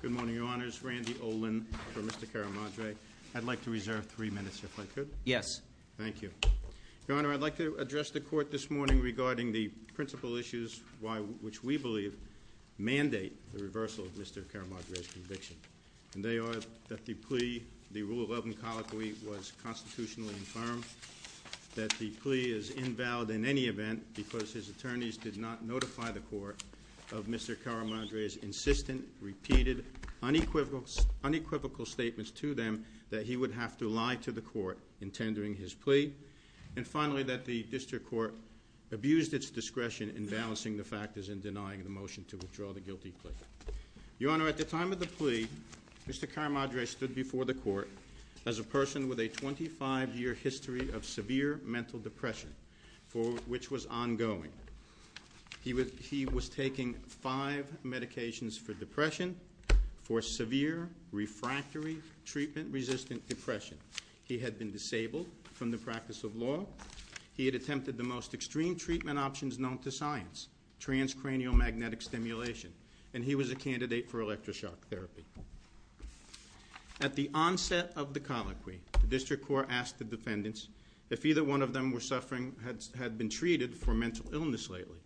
Good morning, your honors, Randy Olin for Mr. Caramadre. I'd like to reserve three minutes if I could. Yes. Thank you. Your honor, I'd like to address the court this morning regarding the principal issues which we believe mandate the reversal of Mr. Caramadre's conviction. And they are that the plea, the rule 11 colloquy was constitutionally affirmed, that the plea is invalid in any event because his attorneys did not notify the court of Mr. Caramadre's insistent, repeated, unequivocal statements to them that he would have to lie to the court in tendering his plea. And finally, that the district court abused its discretion in balancing the factors in denying the motion to withdraw the guilty plea. Your honor, at the time of the plea, Mr. Caramadre stood before the court as a person with a 25 year history of severe mental depression, for which was ongoing. He was taking five medications for depression, for severe refractory treatment resistant depression. He had been disabled from the practice of law. He had attempted the most extreme treatment options known to science, transcranial magnetic stimulation. And he was a candidate for electroshock therapy. At the onset of the colloquy, the district court asked the defendants if either one of them were suffering, had been treated for mental illness lately.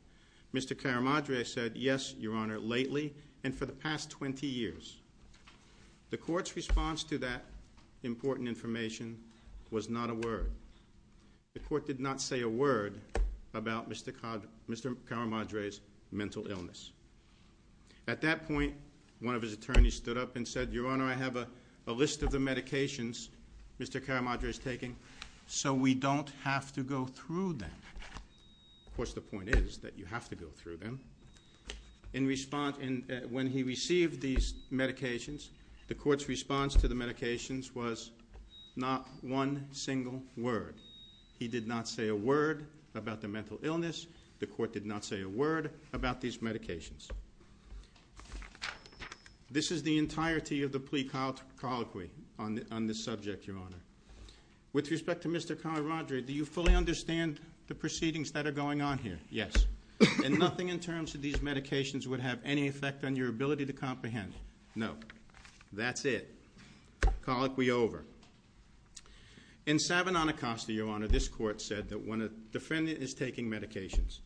Mr. Caramadre said, yes, your honor, lately and for the past 20 years. The court's response to that important information was not a word. The court did not say a word about Mr. Caramadre's mental illness. At that point, one of his attorneys stood up and said, your honor, I have a list of the medications Mr. Caramadre is taking. So we don't have to go through them. Of course, the point is that you have to go through them. In response, when he received these medications, the court's response to the medications was not one single word. He did not say a word about the mental illness. The court did not say a word about these medications. This is the entirety of the plea colloquy on this subject, your honor. With respect to Mr. Caramadre, do you fully understand the proceedings that are going on here? Yes. And nothing in terms of these medications would have any effect on your ability to comprehend? No. That's it. Colloquy over. In Sabanon Acosta, your honor, this court said that when a defendant is taking medications,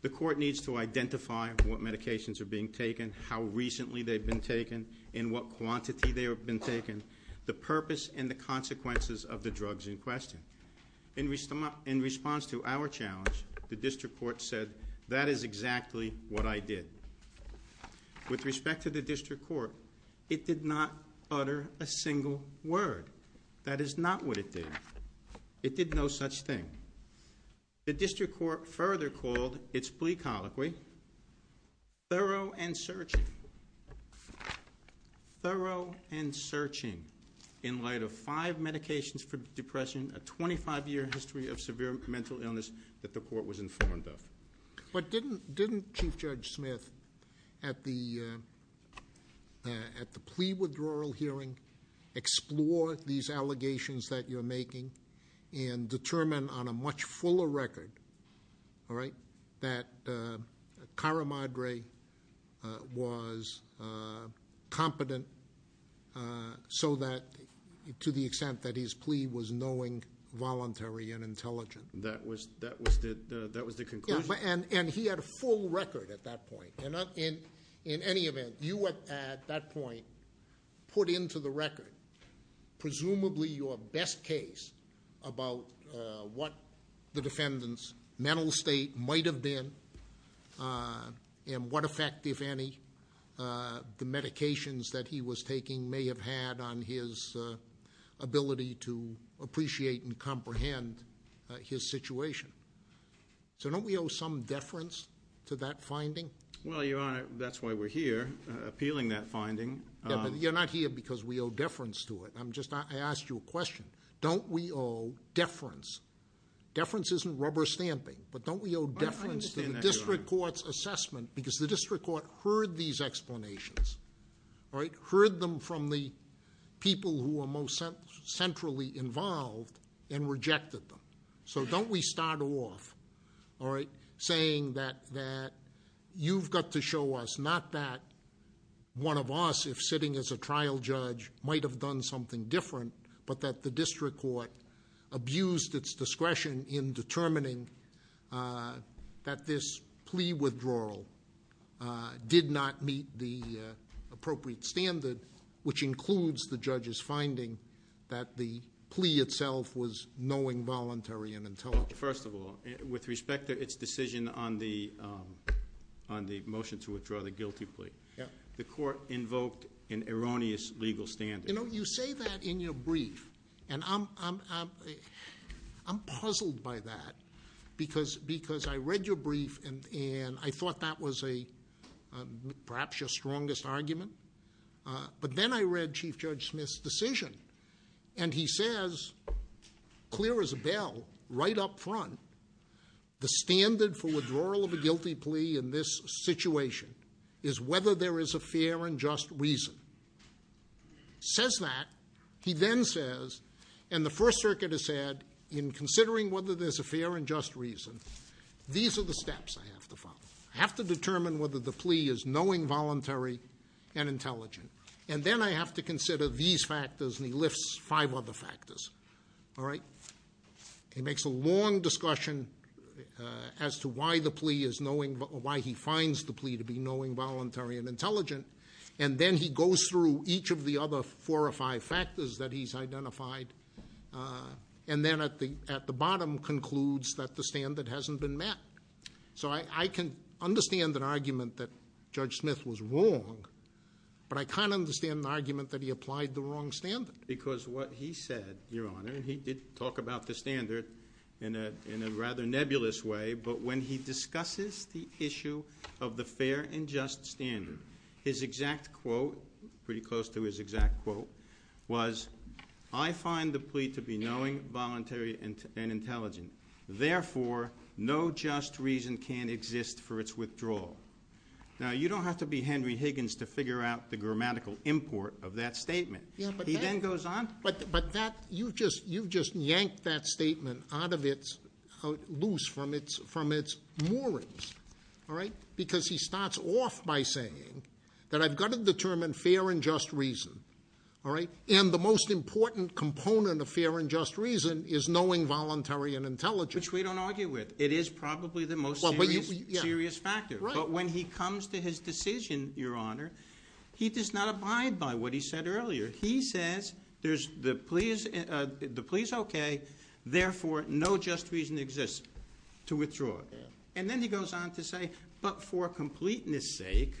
the court needs to identify what medications are being taken, how recently they've been taken, in what quantity they have been taken, the purpose and the consequences of the drugs in question. In response to our challenge, the district court said, that is exactly what I did. With respect to the district court, it did not utter a single word. That is not what it did. It did no such thing. The district court further called its plea colloquy thorough and searching, thorough and searching. In light of five medications for depression, a 25 year history of severe mental illness that the court was informed of. But didn't Chief Judge Smith, at the plea withdrawal hearing, explore these allegations that you're making, and determine on a much fuller record, all right, that Caramadre was competent so that, to the extent that his plea was knowing, voluntary, and intelligent. That was the conclusion. And he had a full record at that point. And in any event, you at that point put into the record, presumably your best case about what the defendant's mental state might have been. And what effect, if any, the medications that he was taking may have had on his ability to appreciate and comprehend his situation. So don't we owe some deference to that finding? Well, Your Honor, that's why we're here, appealing that finding. Yeah, but you're not here because we owe deference to it. I'm just, I asked you a question. Don't we owe deference? Deference isn't rubber stamping. But don't we owe deference to the district court's assessment, because the district court heard these explanations. All right, heard them from the people who were most centrally involved and rejected them. So don't we start off, all right, saying that you've got to show us, not that one of us, if sitting as a trial judge, might have done something different, but that the district court abused its discretion in determining that this plea withdrawal did not meet the appropriate standard, which includes the judge's finding that the plea itself was knowing, voluntary, and intelligent. First of all, with respect to its decision on the motion to withdraw the guilty plea. Yeah. The court invoked an erroneous legal standard. You say that in your brief, and I'm puzzled by that. Because I read your brief, and I thought that was perhaps your strongest argument. But then I read Chief Judge Smith's decision, and he says, clear as a bell, right up front, the standard for withdrawal of a guilty plea in this situation is whether there is a fair and just reason. Says that, he then says, and the First Circuit has said, in considering whether there's a fair and just reason, these are the steps I have to follow. I have to determine whether the plea is knowing, voluntary, and intelligent. And then I have to consider these factors, and he lifts five other factors, all right? He makes a long discussion as to why he finds the plea to be knowing, voluntary, and intelligent. And then he goes through each of the other four or five factors that he's identified. And then at the bottom concludes that the standard hasn't been met. So I can understand an argument that Judge Smith was wrong, but I can't understand the argument that he applied the wrong standard. Because what he said, Your Honor, and he did talk about the standard in a rather nebulous way. But when he discusses the issue of the fair and just standard, his exact quote, pretty close to his exact quote, was, I find the plea to be knowing, voluntary, and intelligent. Therefore, no just reason can exist for its withdrawal. Now, you don't have to be Henry Higgins to figure out the grammatical import of that statement. He then goes on. But you've just yanked that statement out of its, loose from its moorings, all right? Because he starts off by saying that I've got to determine fair and just reason, all right? And the most important component of fair and just reason is knowing, voluntary, and intelligent. Which we don't argue with. It is probably the most serious factor. But when he comes to his decision, Your Honor, he does not abide by what he said earlier. He says, the plea's okay, therefore, no just reason exists to withdraw it. And then he goes on to say, but for completeness sake,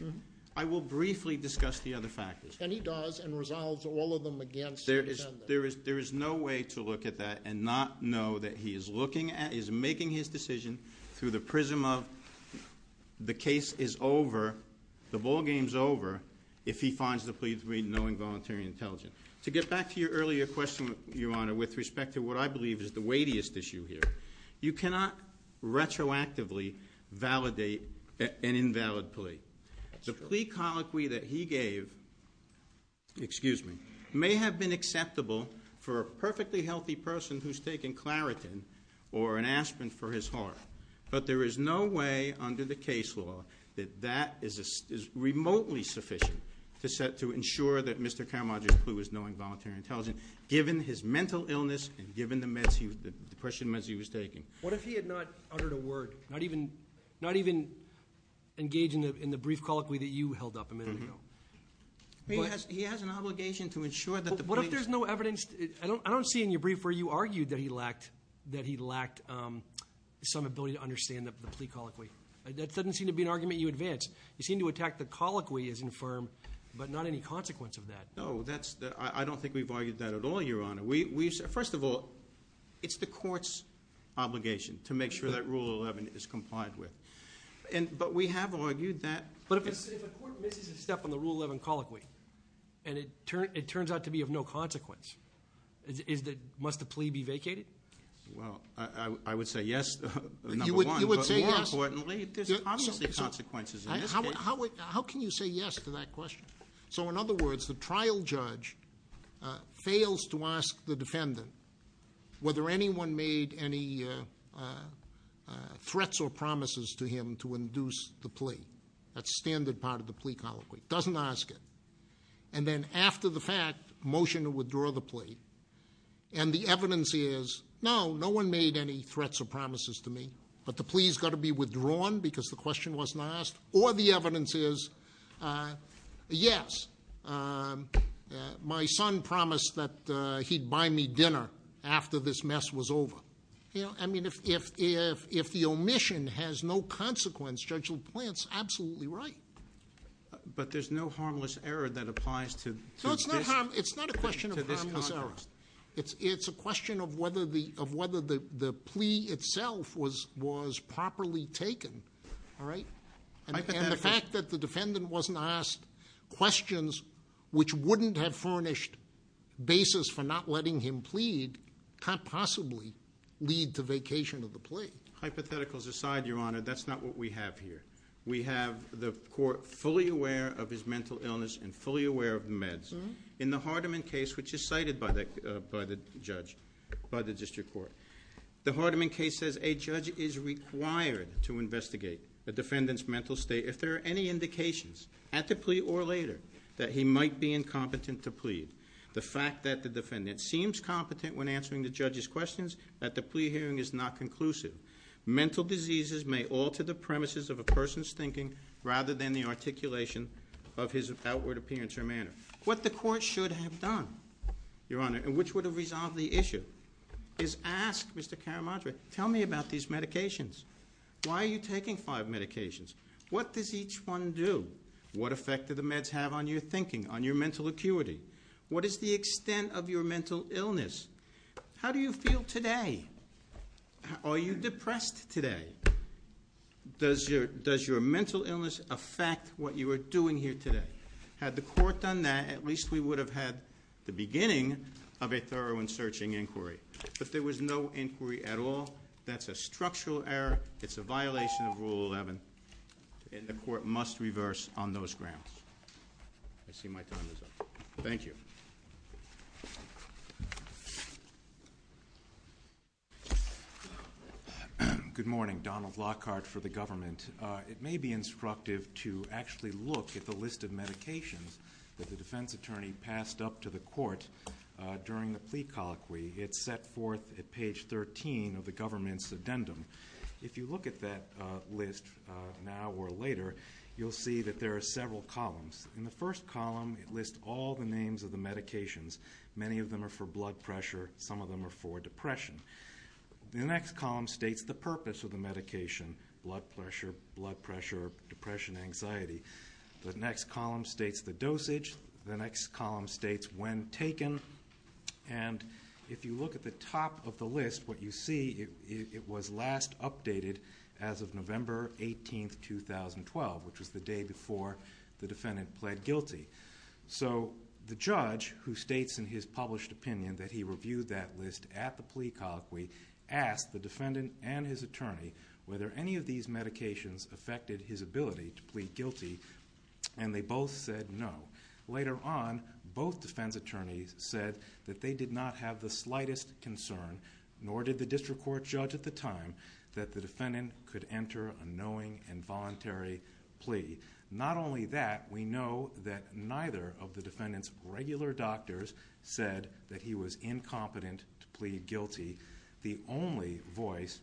I will briefly discuss the other factors. And he does, and resolves all of them against the defendant. There is no way to look at that and not know that he is looking at, is making his decision through the prism of the case is over, the ball game's over, if he finds the plea to be knowing, voluntary, and intelligent. To get back to your earlier question, Your Honor, with respect to what I believe is the weightiest issue here. You cannot retroactively validate an invalid plea. The plea colloquy that he gave, excuse me, may have been acceptable for a perfectly healthy person who's taken Claritin or an aspirin for his heart. But there is no way under the case law that that is remotely sufficient to ensure that Mr. Caramaggio's plea was knowing, voluntary, and intelligent, given his mental illness and given the depression meds he was taking. What if he had not uttered a word, not even engaged in the brief colloquy that you held up a minute ago? He has an obligation to ensure that the plea- Ability to understand the plea colloquy. That doesn't seem to be an argument you advance. You seem to attack the colloquy as infirm, but not any consequence of that. No, I don't think we've argued that at all, Your Honor. First of all, it's the court's obligation to make sure that Rule 11 is complied with. But we have argued that- But if a court misses a step on the Rule 11 colloquy, and it turns out to be of no consequence, must the plea be vacated? Well, I would say yes, number one. But more importantly, there's obviously consequences in this case. How can you say yes to that question? So in other words, the trial judge fails to ask the defendant whether anyone made any threats or promises to him to induce the plea. That's standard part of the plea colloquy. Doesn't ask it. And then after the fact, motion to withdraw the plea. And the evidence is, no, no one made any threats or promises to me. But the plea's got to be withdrawn because the question wasn't asked. Or the evidence is, yes, my son promised that he'd buy me dinner after this mess was over. I mean, if the omission has no consequence, Judge LaPlante's absolutely right. But there's no harmless error that applies to this- It's a question of whether the plea itself was properly taken, all right? And the fact that the defendant wasn't asked questions which wouldn't have furnished basis for not letting him plead can't possibly lead to vacation of the plea. Hypotheticals aside, Your Honor, that's not what we have here. We have the court fully aware of his mental illness and fully aware of the meds. In the Hardeman case, which is cited by the judge, by the district court. The Hardeman case says a judge is required to investigate the defendant's mental state if there are any indications, at the plea or later, that he might be incompetent to plead. The fact that the defendant seems competent when answering the judge's questions, that the plea hearing is not conclusive. Mental diseases may alter the premises of a person's thinking rather than the articulation of his outward appearance or manner. What the court should have done, Your Honor, and which would have resolved the issue, is ask Mr. Caramadre, tell me about these medications. Why are you taking five medications? What does each one do? What effect do the meds have on your thinking, on your mental acuity? What is the extent of your mental illness? How do you feel today? Are you depressed today? Does your mental illness affect what you are doing here today? Had the court done that, at least we would have had the beginning of a thorough and searching inquiry. If there was no inquiry at all, that's a structural error. It's a violation of Rule 11, and the court must reverse on those grounds. I see my time is up. Thank you. Good morning, Donald Lockhart for the government. It may be instructive to actually look at the list of medications that the defense attorney passed up to the court during the plea colloquy. It's set forth at page 13 of the government's addendum. If you look at that list now or later, you'll see that there are several columns. In the first column, it lists all the names of the medications. Many of them are for blood pressure, some of them are for depression. The next column states the purpose of the medication, blood pressure, blood pressure, depression, anxiety. The next column states the dosage. The next column states when taken. And if you look at the top of the list, what you see, it was last updated as of November 18th, 2012, which was the day before the defendant pled guilty. So the judge, who states in his published opinion that he reviewed that list at the plea colloquy, asked the defendant and his attorney whether any of these medications affected his ability to plead guilty. And they both said no. Later on, both defense attorneys said that they did not have the slightest concern, nor did the district court judge at the time, that the defendant could enter a knowing and voluntary plea. Not only that, we know that neither of the defendant's regular doctors said that he was incompetent to plead guilty. The only voice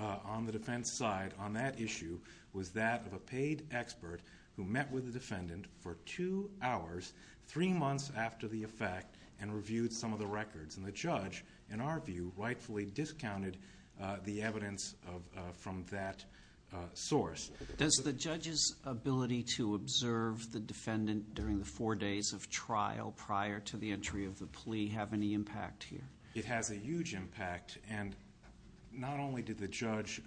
on the defense side on that issue was that of a paid expert who met with the defendant for two hours, three months after the effect, and reviewed some of the records. And the judge, in our view, rightfully discounted the evidence from that source. Does the judge's ability to observe the defendant during the four days of trial prior to the entry of the plea have any impact here? It has a huge impact. And not only did the judge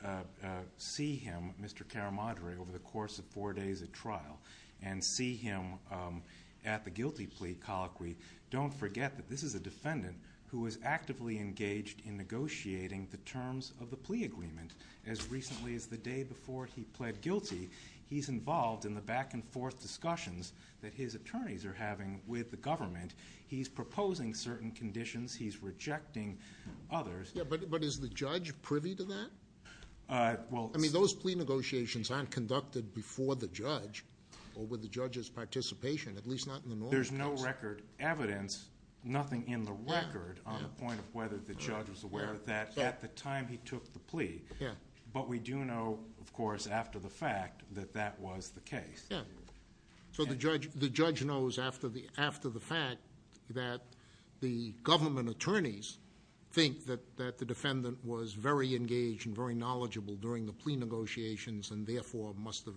see him, Mr. Karamadri, over the course of four days of trial, and see him at the guilty plea colloquy. Don't forget that this is a defendant who was actively engaged in negotiating the terms of the plea agreement as recently as the day before he pled guilty. He's involved in the back and forth discussions that his attorneys are having with the government. He's proposing certain conditions. He's rejecting others. Yeah, but is the judge privy to that? I mean, those plea negotiations aren't conducted before the judge or with the judge's participation, at least not in the normal case. There's no record evidence, nothing in the record on the point of whether the judge was aware of that at the time he took the plea. But we do know, of course, after the fact, that that was the case. Yeah. So the judge knows after the fact that the government attorneys think that the defendant was very engaged and very knowledgeable during the plea negotiations and therefore must have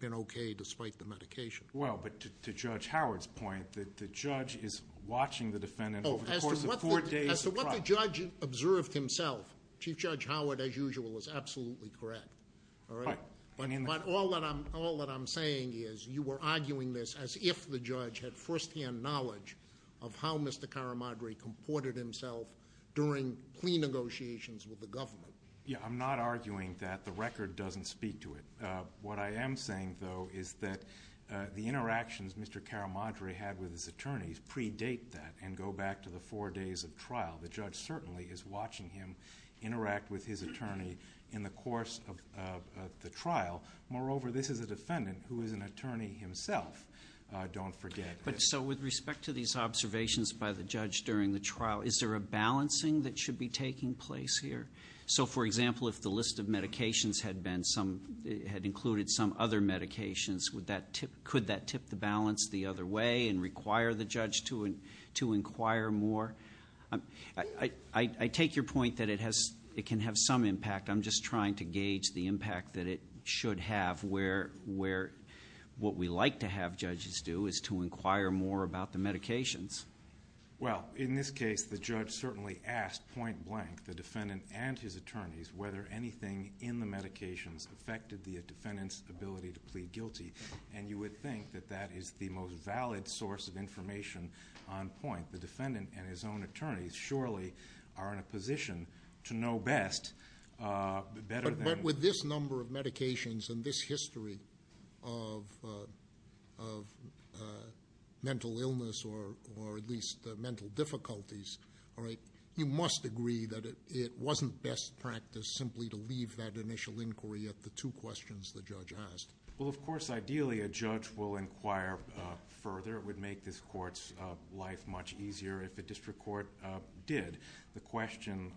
been okay despite the medication. Well, but to Judge Howard's point, that the judge is watching the defendant over the course of four days of trial. What the judge observed himself, Chief Judge Howard, as usual, is absolutely correct, all right? But all that I'm saying is, you were arguing this as if the judge had first hand knowledge of how Mr. Caramadri comported himself during plea negotiations with the government. Yeah, I'm not arguing that. The record doesn't speak to it. What I am saying, though, is that the interactions Mr. Caramadri had with his attorneys predate that and go back to the four days of trial. The judge certainly is watching him interact with his attorney in the course of the trial. Moreover, this is a defendant who is an attorney himself, don't forget. But so with respect to these observations by the judge during the trial, is there a balancing that should be taking place here? So for example, if the list of medications had included some other medications, could that tip the balance the other way and require the judge to inquire more? I take your point that it can have some impact. I'm just trying to gauge the impact that it should have where what we like to have judges do is to inquire more about the medications. Well, in this case, the judge certainly asked point blank the defendant and his attorneys whether anything in the medications affected the defendant's ability to plead guilty. And you would think that that is the most valid source of information on point. The defendant and his own attorneys surely are in a position to know best, better than- But with this number of medications and this history of best practice simply to leave that initial inquiry at the two questions the judge asked. Well, of course, ideally, a judge will inquire further. It would make this court's life much easier if the district court did. The question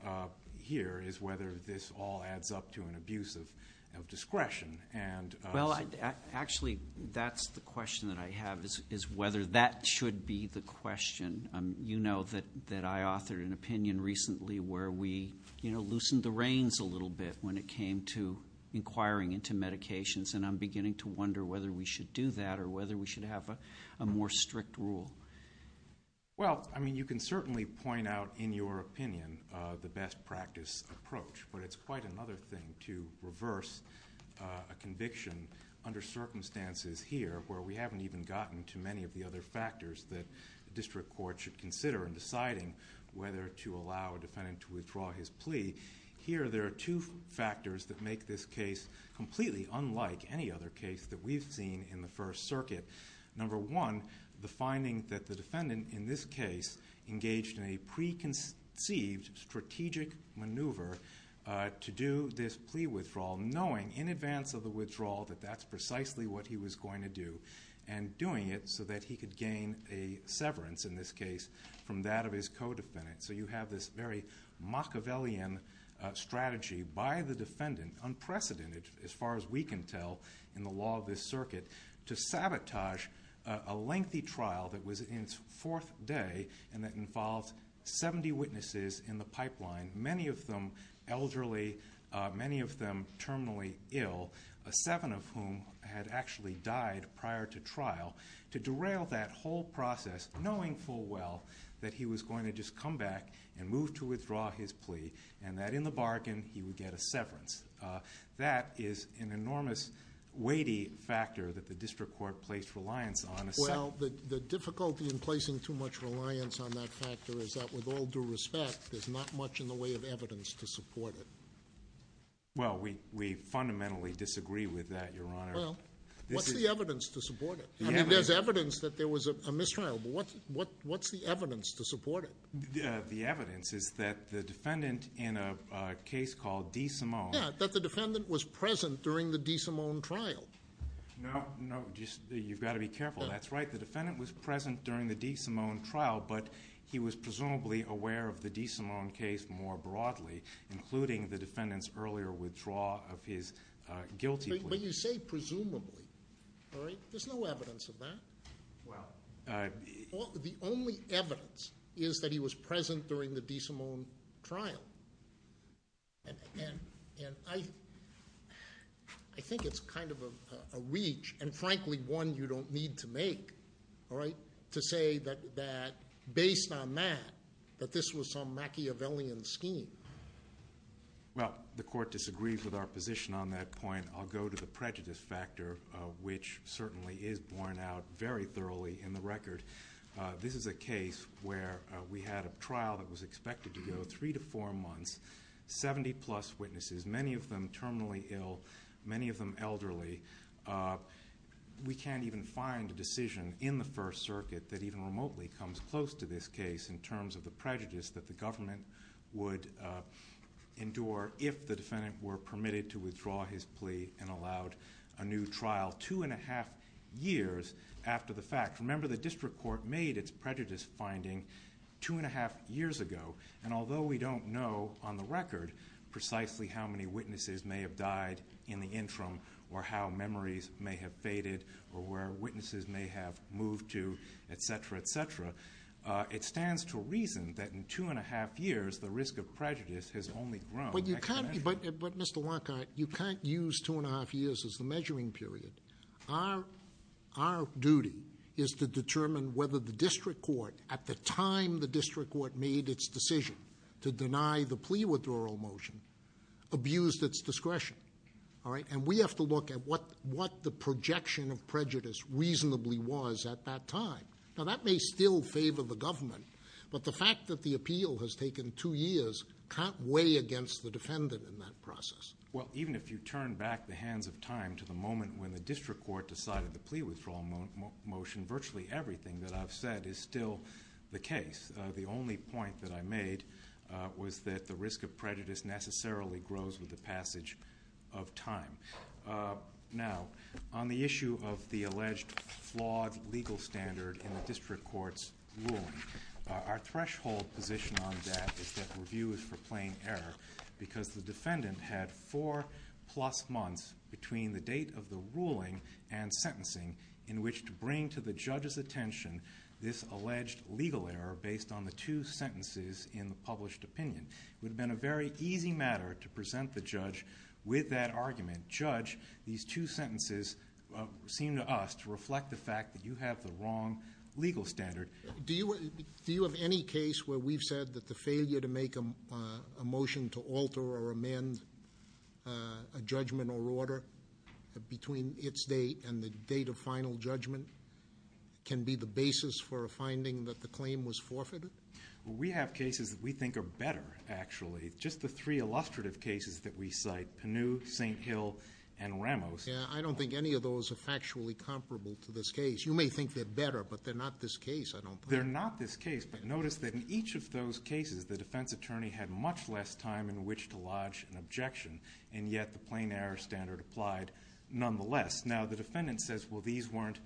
here is whether this all adds up to an abuse of discretion and- Well, actually, that's the question that I have, is whether that should be the question. You know that I authored an opinion recently where we loosened the reins a little bit when it came to inquiring into medications. And I'm beginning to wonder whether we should do that or whether we should have a more strict rule. Well, I mean, you can certainly point out in your opinion the best practice approach. But it's quite another thing to reverse a conviction under circumstances here, where we haven't even gotten to many of the other factors that the district court should consider in deciding whether to allow a defendant to withdraw his plea. Here, there are two factors that make this case completely unlike any other case that we've seen in the First Circuit. Number one, the finding that the defendant in this case engaged in a preconceived strategic maneuver to do this plea withdrawal, knowing in advance of the withdrawal that that's precisely what he was going to do. And doing it so that he could gain a severance, in this case, from that of his co-defendant. So you have this very Machiavellian strategy by the defendant, unprecedented as far as we can tell in the law of this circuit, to sabotage a lengthy trial that was in its fourth day and that involved 70 witnesses in the pipeline. Many of them elderly, many of them terminally ill, seven of whom had actually died prior to trial, to derail that whole process, knowing full well that he was going to just come back and move to withdraw his plea. And that in the bargain, he would get a severance. That is an enormous weighty factor that the district court placed reliance on. Well, the difficulty in placing too much reliance on that factor is that with all due respect, there's not much in the way of evidence to support it. Well, we fundamentally disagree with that, Your Honor. Well, what's the evidence to support it? I mean, there's evidence that there was a mistrial, but what's the evidence to support it? The evidence is that the defendant in a case called DeSimone. Yeah, that the defendant was present during the DeSimone trial. No, no, you've got to be careful. That's right, the defendant was present during the DeSimone trial, but he was presumably aware of the DeSimone case more broadly, including the defendant's earlier withdraw of his guilty plea. But you say presumably, all right? There's no evidence of that. Well- The only evidence is that he was present during the DeSimone trial. And I think it's kind of a reach, and frankly, one you don't need to make, all right? To say that based on that, that this was some Machiavellian scheme. Well, the court disagrees with our position on that point. I'll go to the prejudice factor, which certainly is borne out very thoroughly in the record. This is a case where we had a trial that was expected to go three to four months, 70 plus witnesses. Many of them terminally ill, many of them elderly. We can't even find a decision in the First Circuit that even remotely comes close to this case in terms of the prejudice that the government would endure if the defendant were permitted to withdraw his plea and allowed a new trial two and a half years after the fact. Remember, the district court made its prejudice finding two and a half years ago. And although we don't know on the record precisely how many witnesses may have died in the interim, or how memories may have faded, or where witnesses may have moved to, etc., etc. It stands to reason that in two and a half years, the risk of prejudice has only grown exponentially. But Mr. Lockhart, you can't use two and a half years as the measuring period. Our duty is to determine whether the district court, at the time the district court made its decision to deny the plea withdrawal motion, abused its discretion. All right, and we have to look at what the projection of prejudice reasonably was at that time. Now that may still favor the government, but the fact that the appeal has taken two years can't weigh against the defendant in that process. Well, even if you turn back the hands of time to the moment when the district court decided the plea withdrawal motion, virtually everything that I've said is still the case. The only point that I made was that the risk of prejudice necessarily grows with the passage of time. Now, on the issue of the alleged flawed legal standard in the district court's ruling, our threshold position on that is that review is for plain error. Because the defendant had four plus months between the date of the ruling and sentencing in which to bring to the judge's attention this alleged legal error based on the two sentences in the published opinion. It would have been a very easy matter to present the judge with that argument. Judge, these two sentences seem to us to reflect the fact that you have the wrong legal standard. Do you have any case where we've said that the failure to make a motion to alter or amend a judgment or order between its date and the date of final judgment can be the basis for a finding that the claim was forfeited? We have cases that we think are better, actually. Just the three illustrative cases that we cite, Pinnu, St. Hill, and Ramos. Yeah, I don't think any of those are factually comparable to this case. You may think they're better, but they're not this case, I don't think. They're not this case, but notice that in each of those cases, the defense attorney had much less time in which to lodge an objection. And yet, the plain error standard applied nonetheless. Now, the defendant says, well, these weren't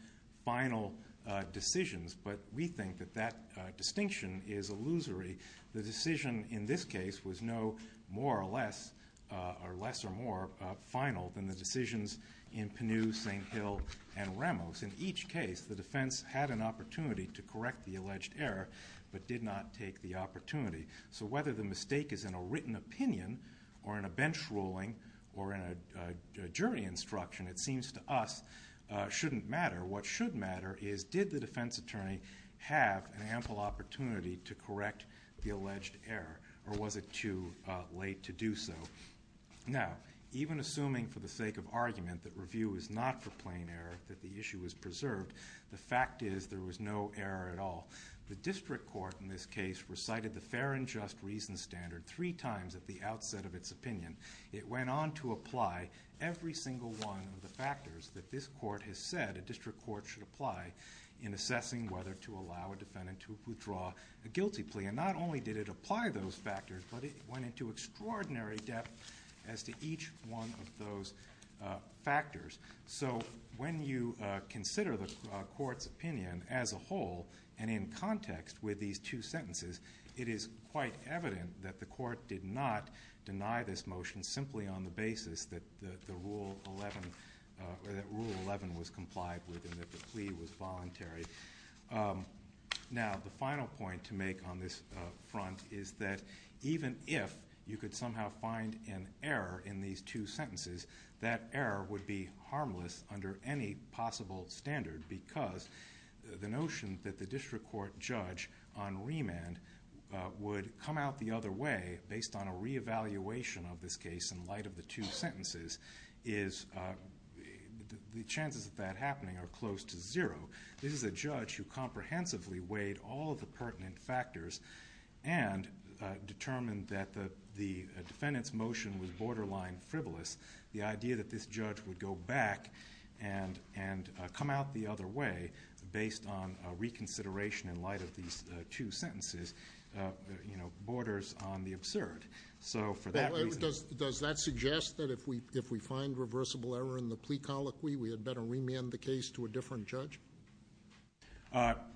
final decisions, but we think that that distinction is illusory. The decision in this case was no more or less or less or more final than the decisions in Pinnu, St. Hill, and Ramos. In each case, the defense had an opportunity to correct the alleged error, but did not take the opportunity. So whether the mistake is in a written opinion, or in a bench ruling, or in a jury instruction, it seems to us shouldn't matter. What should matter is, did the defense attorney have an ample opportunity to correct the alleged error? Or was it too late to do so? Now, even assuming for the sake of argument that review is not for plain error, that the issue is preserved. The fact is, there was no error at all. The district court in this case recited the fair and just reason standard three times at the outset of its opinion. It went on to apply every single one of the factors that this court has said a district court should apply in assessing whether to allow a defendant to withdraw a guilty plea. And not only did it apply those factors, but it went into extraordinary depth as to each one of those factors. So when you consider the court's opinion as a whole, and in context with these two sentences, it is quite evident that the court did not deny this motion simply on the basis that rule 11 was complied with and that the plea was voluntary. Now, the final point to make on this front is that even if you could somehow find an error in these two sentences, that error would be harmless under any possible standard because the notion that the district court judge on remand would come out the other way based on a reevaluation of this case in light of the two sentences, the chances of that happening are close to zero. This is a judge who comprehensively weighed all of the pertinent factors and determined that the defendant's motion was borderline frivolous. The idea that this judge would go back and come out the other way based on a reconsideration in light of these two sentences borders on the absurd. So for that reason- Does that suggest that if we find reversible error in the plea colloquy, we had better remand the case to a different judge?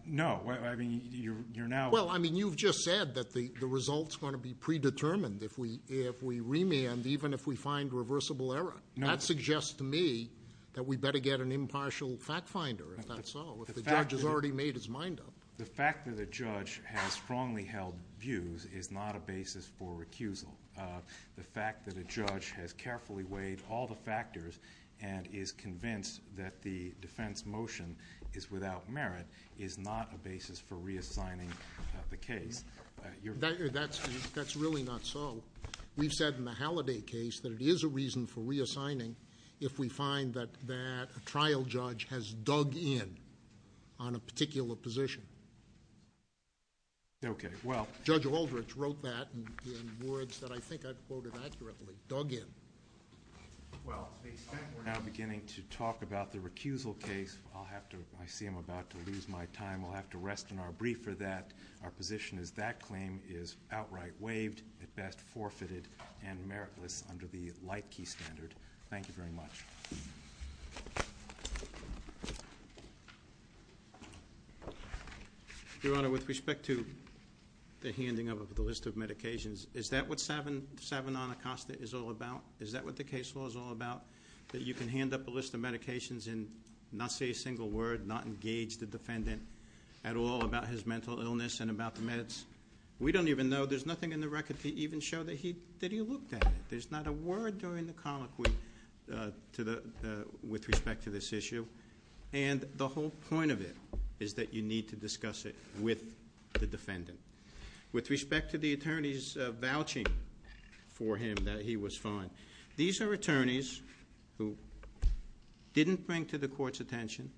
No, I mean, you're now- Well, I mean, you've just said that the result's going to be predetermined if we remand, even if we find reversible error. That suggests to me that we better get an impartial fact finder, if that's so, if the judge has already made his mind up. The fact that a judge has strongly held views is not a basis for recusal. The fact that a judge has carefully weighed all the factors and is convinced that the defense motion is without merit is not a basis for reassigning the case. You're- That's really not so. We've said in the Halliday case that it is a reason for reassigning if we find that a trial judge has dug in on a particular position. Okay, well- But I think I've quoted accurately, dug in. Well, it's being said, we're now beginning to talk about the recusal case. I'll have to, I see I'm about to lose my time. We'll have to rest in our brief for that. Our position is that claim is outright waived, at best forfeited, and meritless under the Leitke standard. Thank you very much. Your Honor, with respect to the handing up of the list of medications. Is that what seven on the costa is all about? Is that what the case law is all about? That you can hand up a list of medications and not say a single word, not engage the defendant at all about his mental illness and about the meds? We don't even know. There's nothing in the record to even show that he looked at it. There's not a word during the colloquy with respect to this issue. And the whole point of it is that you need to discuss it with the defendant. With respect to the attorney's vouching for him that he was fine. These are attorneys who didn't bring to the court's attention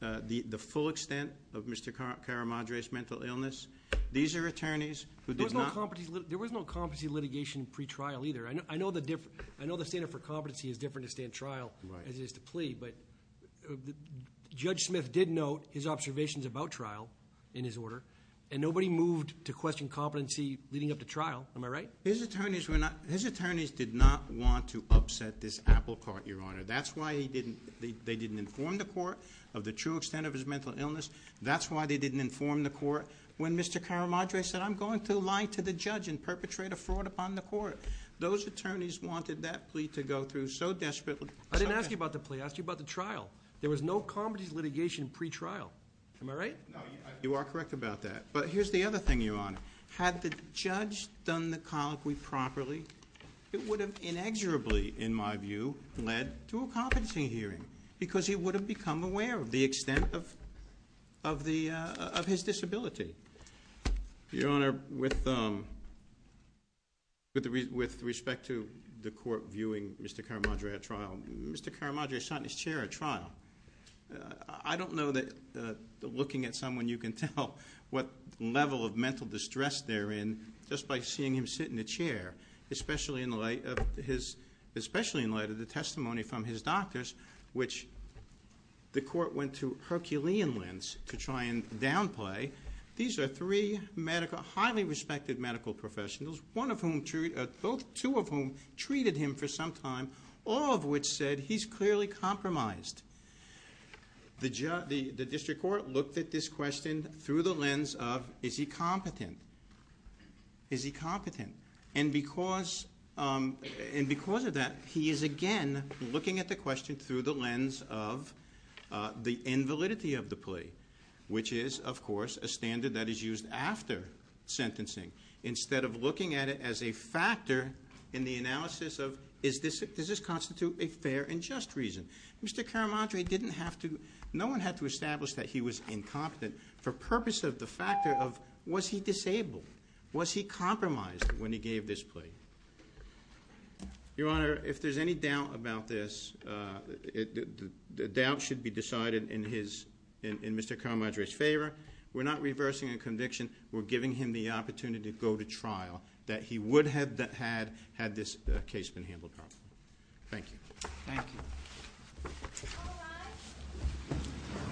the full extent of Mr. Caramadre's mental illness. These are attorneys who did not- There was no competency litigation pre-trial either. I know the standard for competency is different to stand trial as it is to plea. But Judge Smith did note his observations about trial in his order. And nobody moved to question competency leading up to trial, am I right? His attorneys did not want to upset this apple cart, Your Honor. That's why they didn't inform the court of the true extent of his mental illness. That's why they didn't inform the court when Mr. Caramadre said, I'm going to lie to the judge and perpetrate a fraud upon the court. Those attorneys wanted that plea to go through so desperately. I didn't ask you about the plea, I asked you about the trial. There was no competency litigation pre-trial, am I right? No, you are correct about that. But here's the other thing, Your Honor. Had the judge done the colloquy properly, it would have inexorably, in my view, led to a competency hearing because he would have become aware of the extent of his disability, Your Honor, with respect to the court viewing Mr. Caramadre at trial, Mr. Caramadre sat in his chair at trial. I don't know that looking at someone you can tell what level of mental distress they're in, just by seeing him sit in the chair, especially in light of the testimony from his doctors, which the court went to Herculean lens to try and downplay. These are three highly respected medical professionals, two of whom treated him for some time, all of which said he's clearly compromised. The district court looked at this question through the lens of, is he competent? Is he competent? And because of that, he is again looking at the question through the lens of the invalidity of the plea, which is, of course, a standard that is used after sentencing. Instead of looking at it as a factor in the analysis of, does this constitute a fair and just reason? Mr. Caramadre didn't have to, no one had to establish that he was incompetent for the purpose of the factor of, was he disabled? Was he compromised when he gave this plea? Your Honor, if there's any doubt about this, the doubt should be decided in Mr. Caramadre's favor. We're not reversing a conviction. We're giving him the opportunity to go to trial that he would have had, had this case been handled properly. Thank you. Thank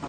you.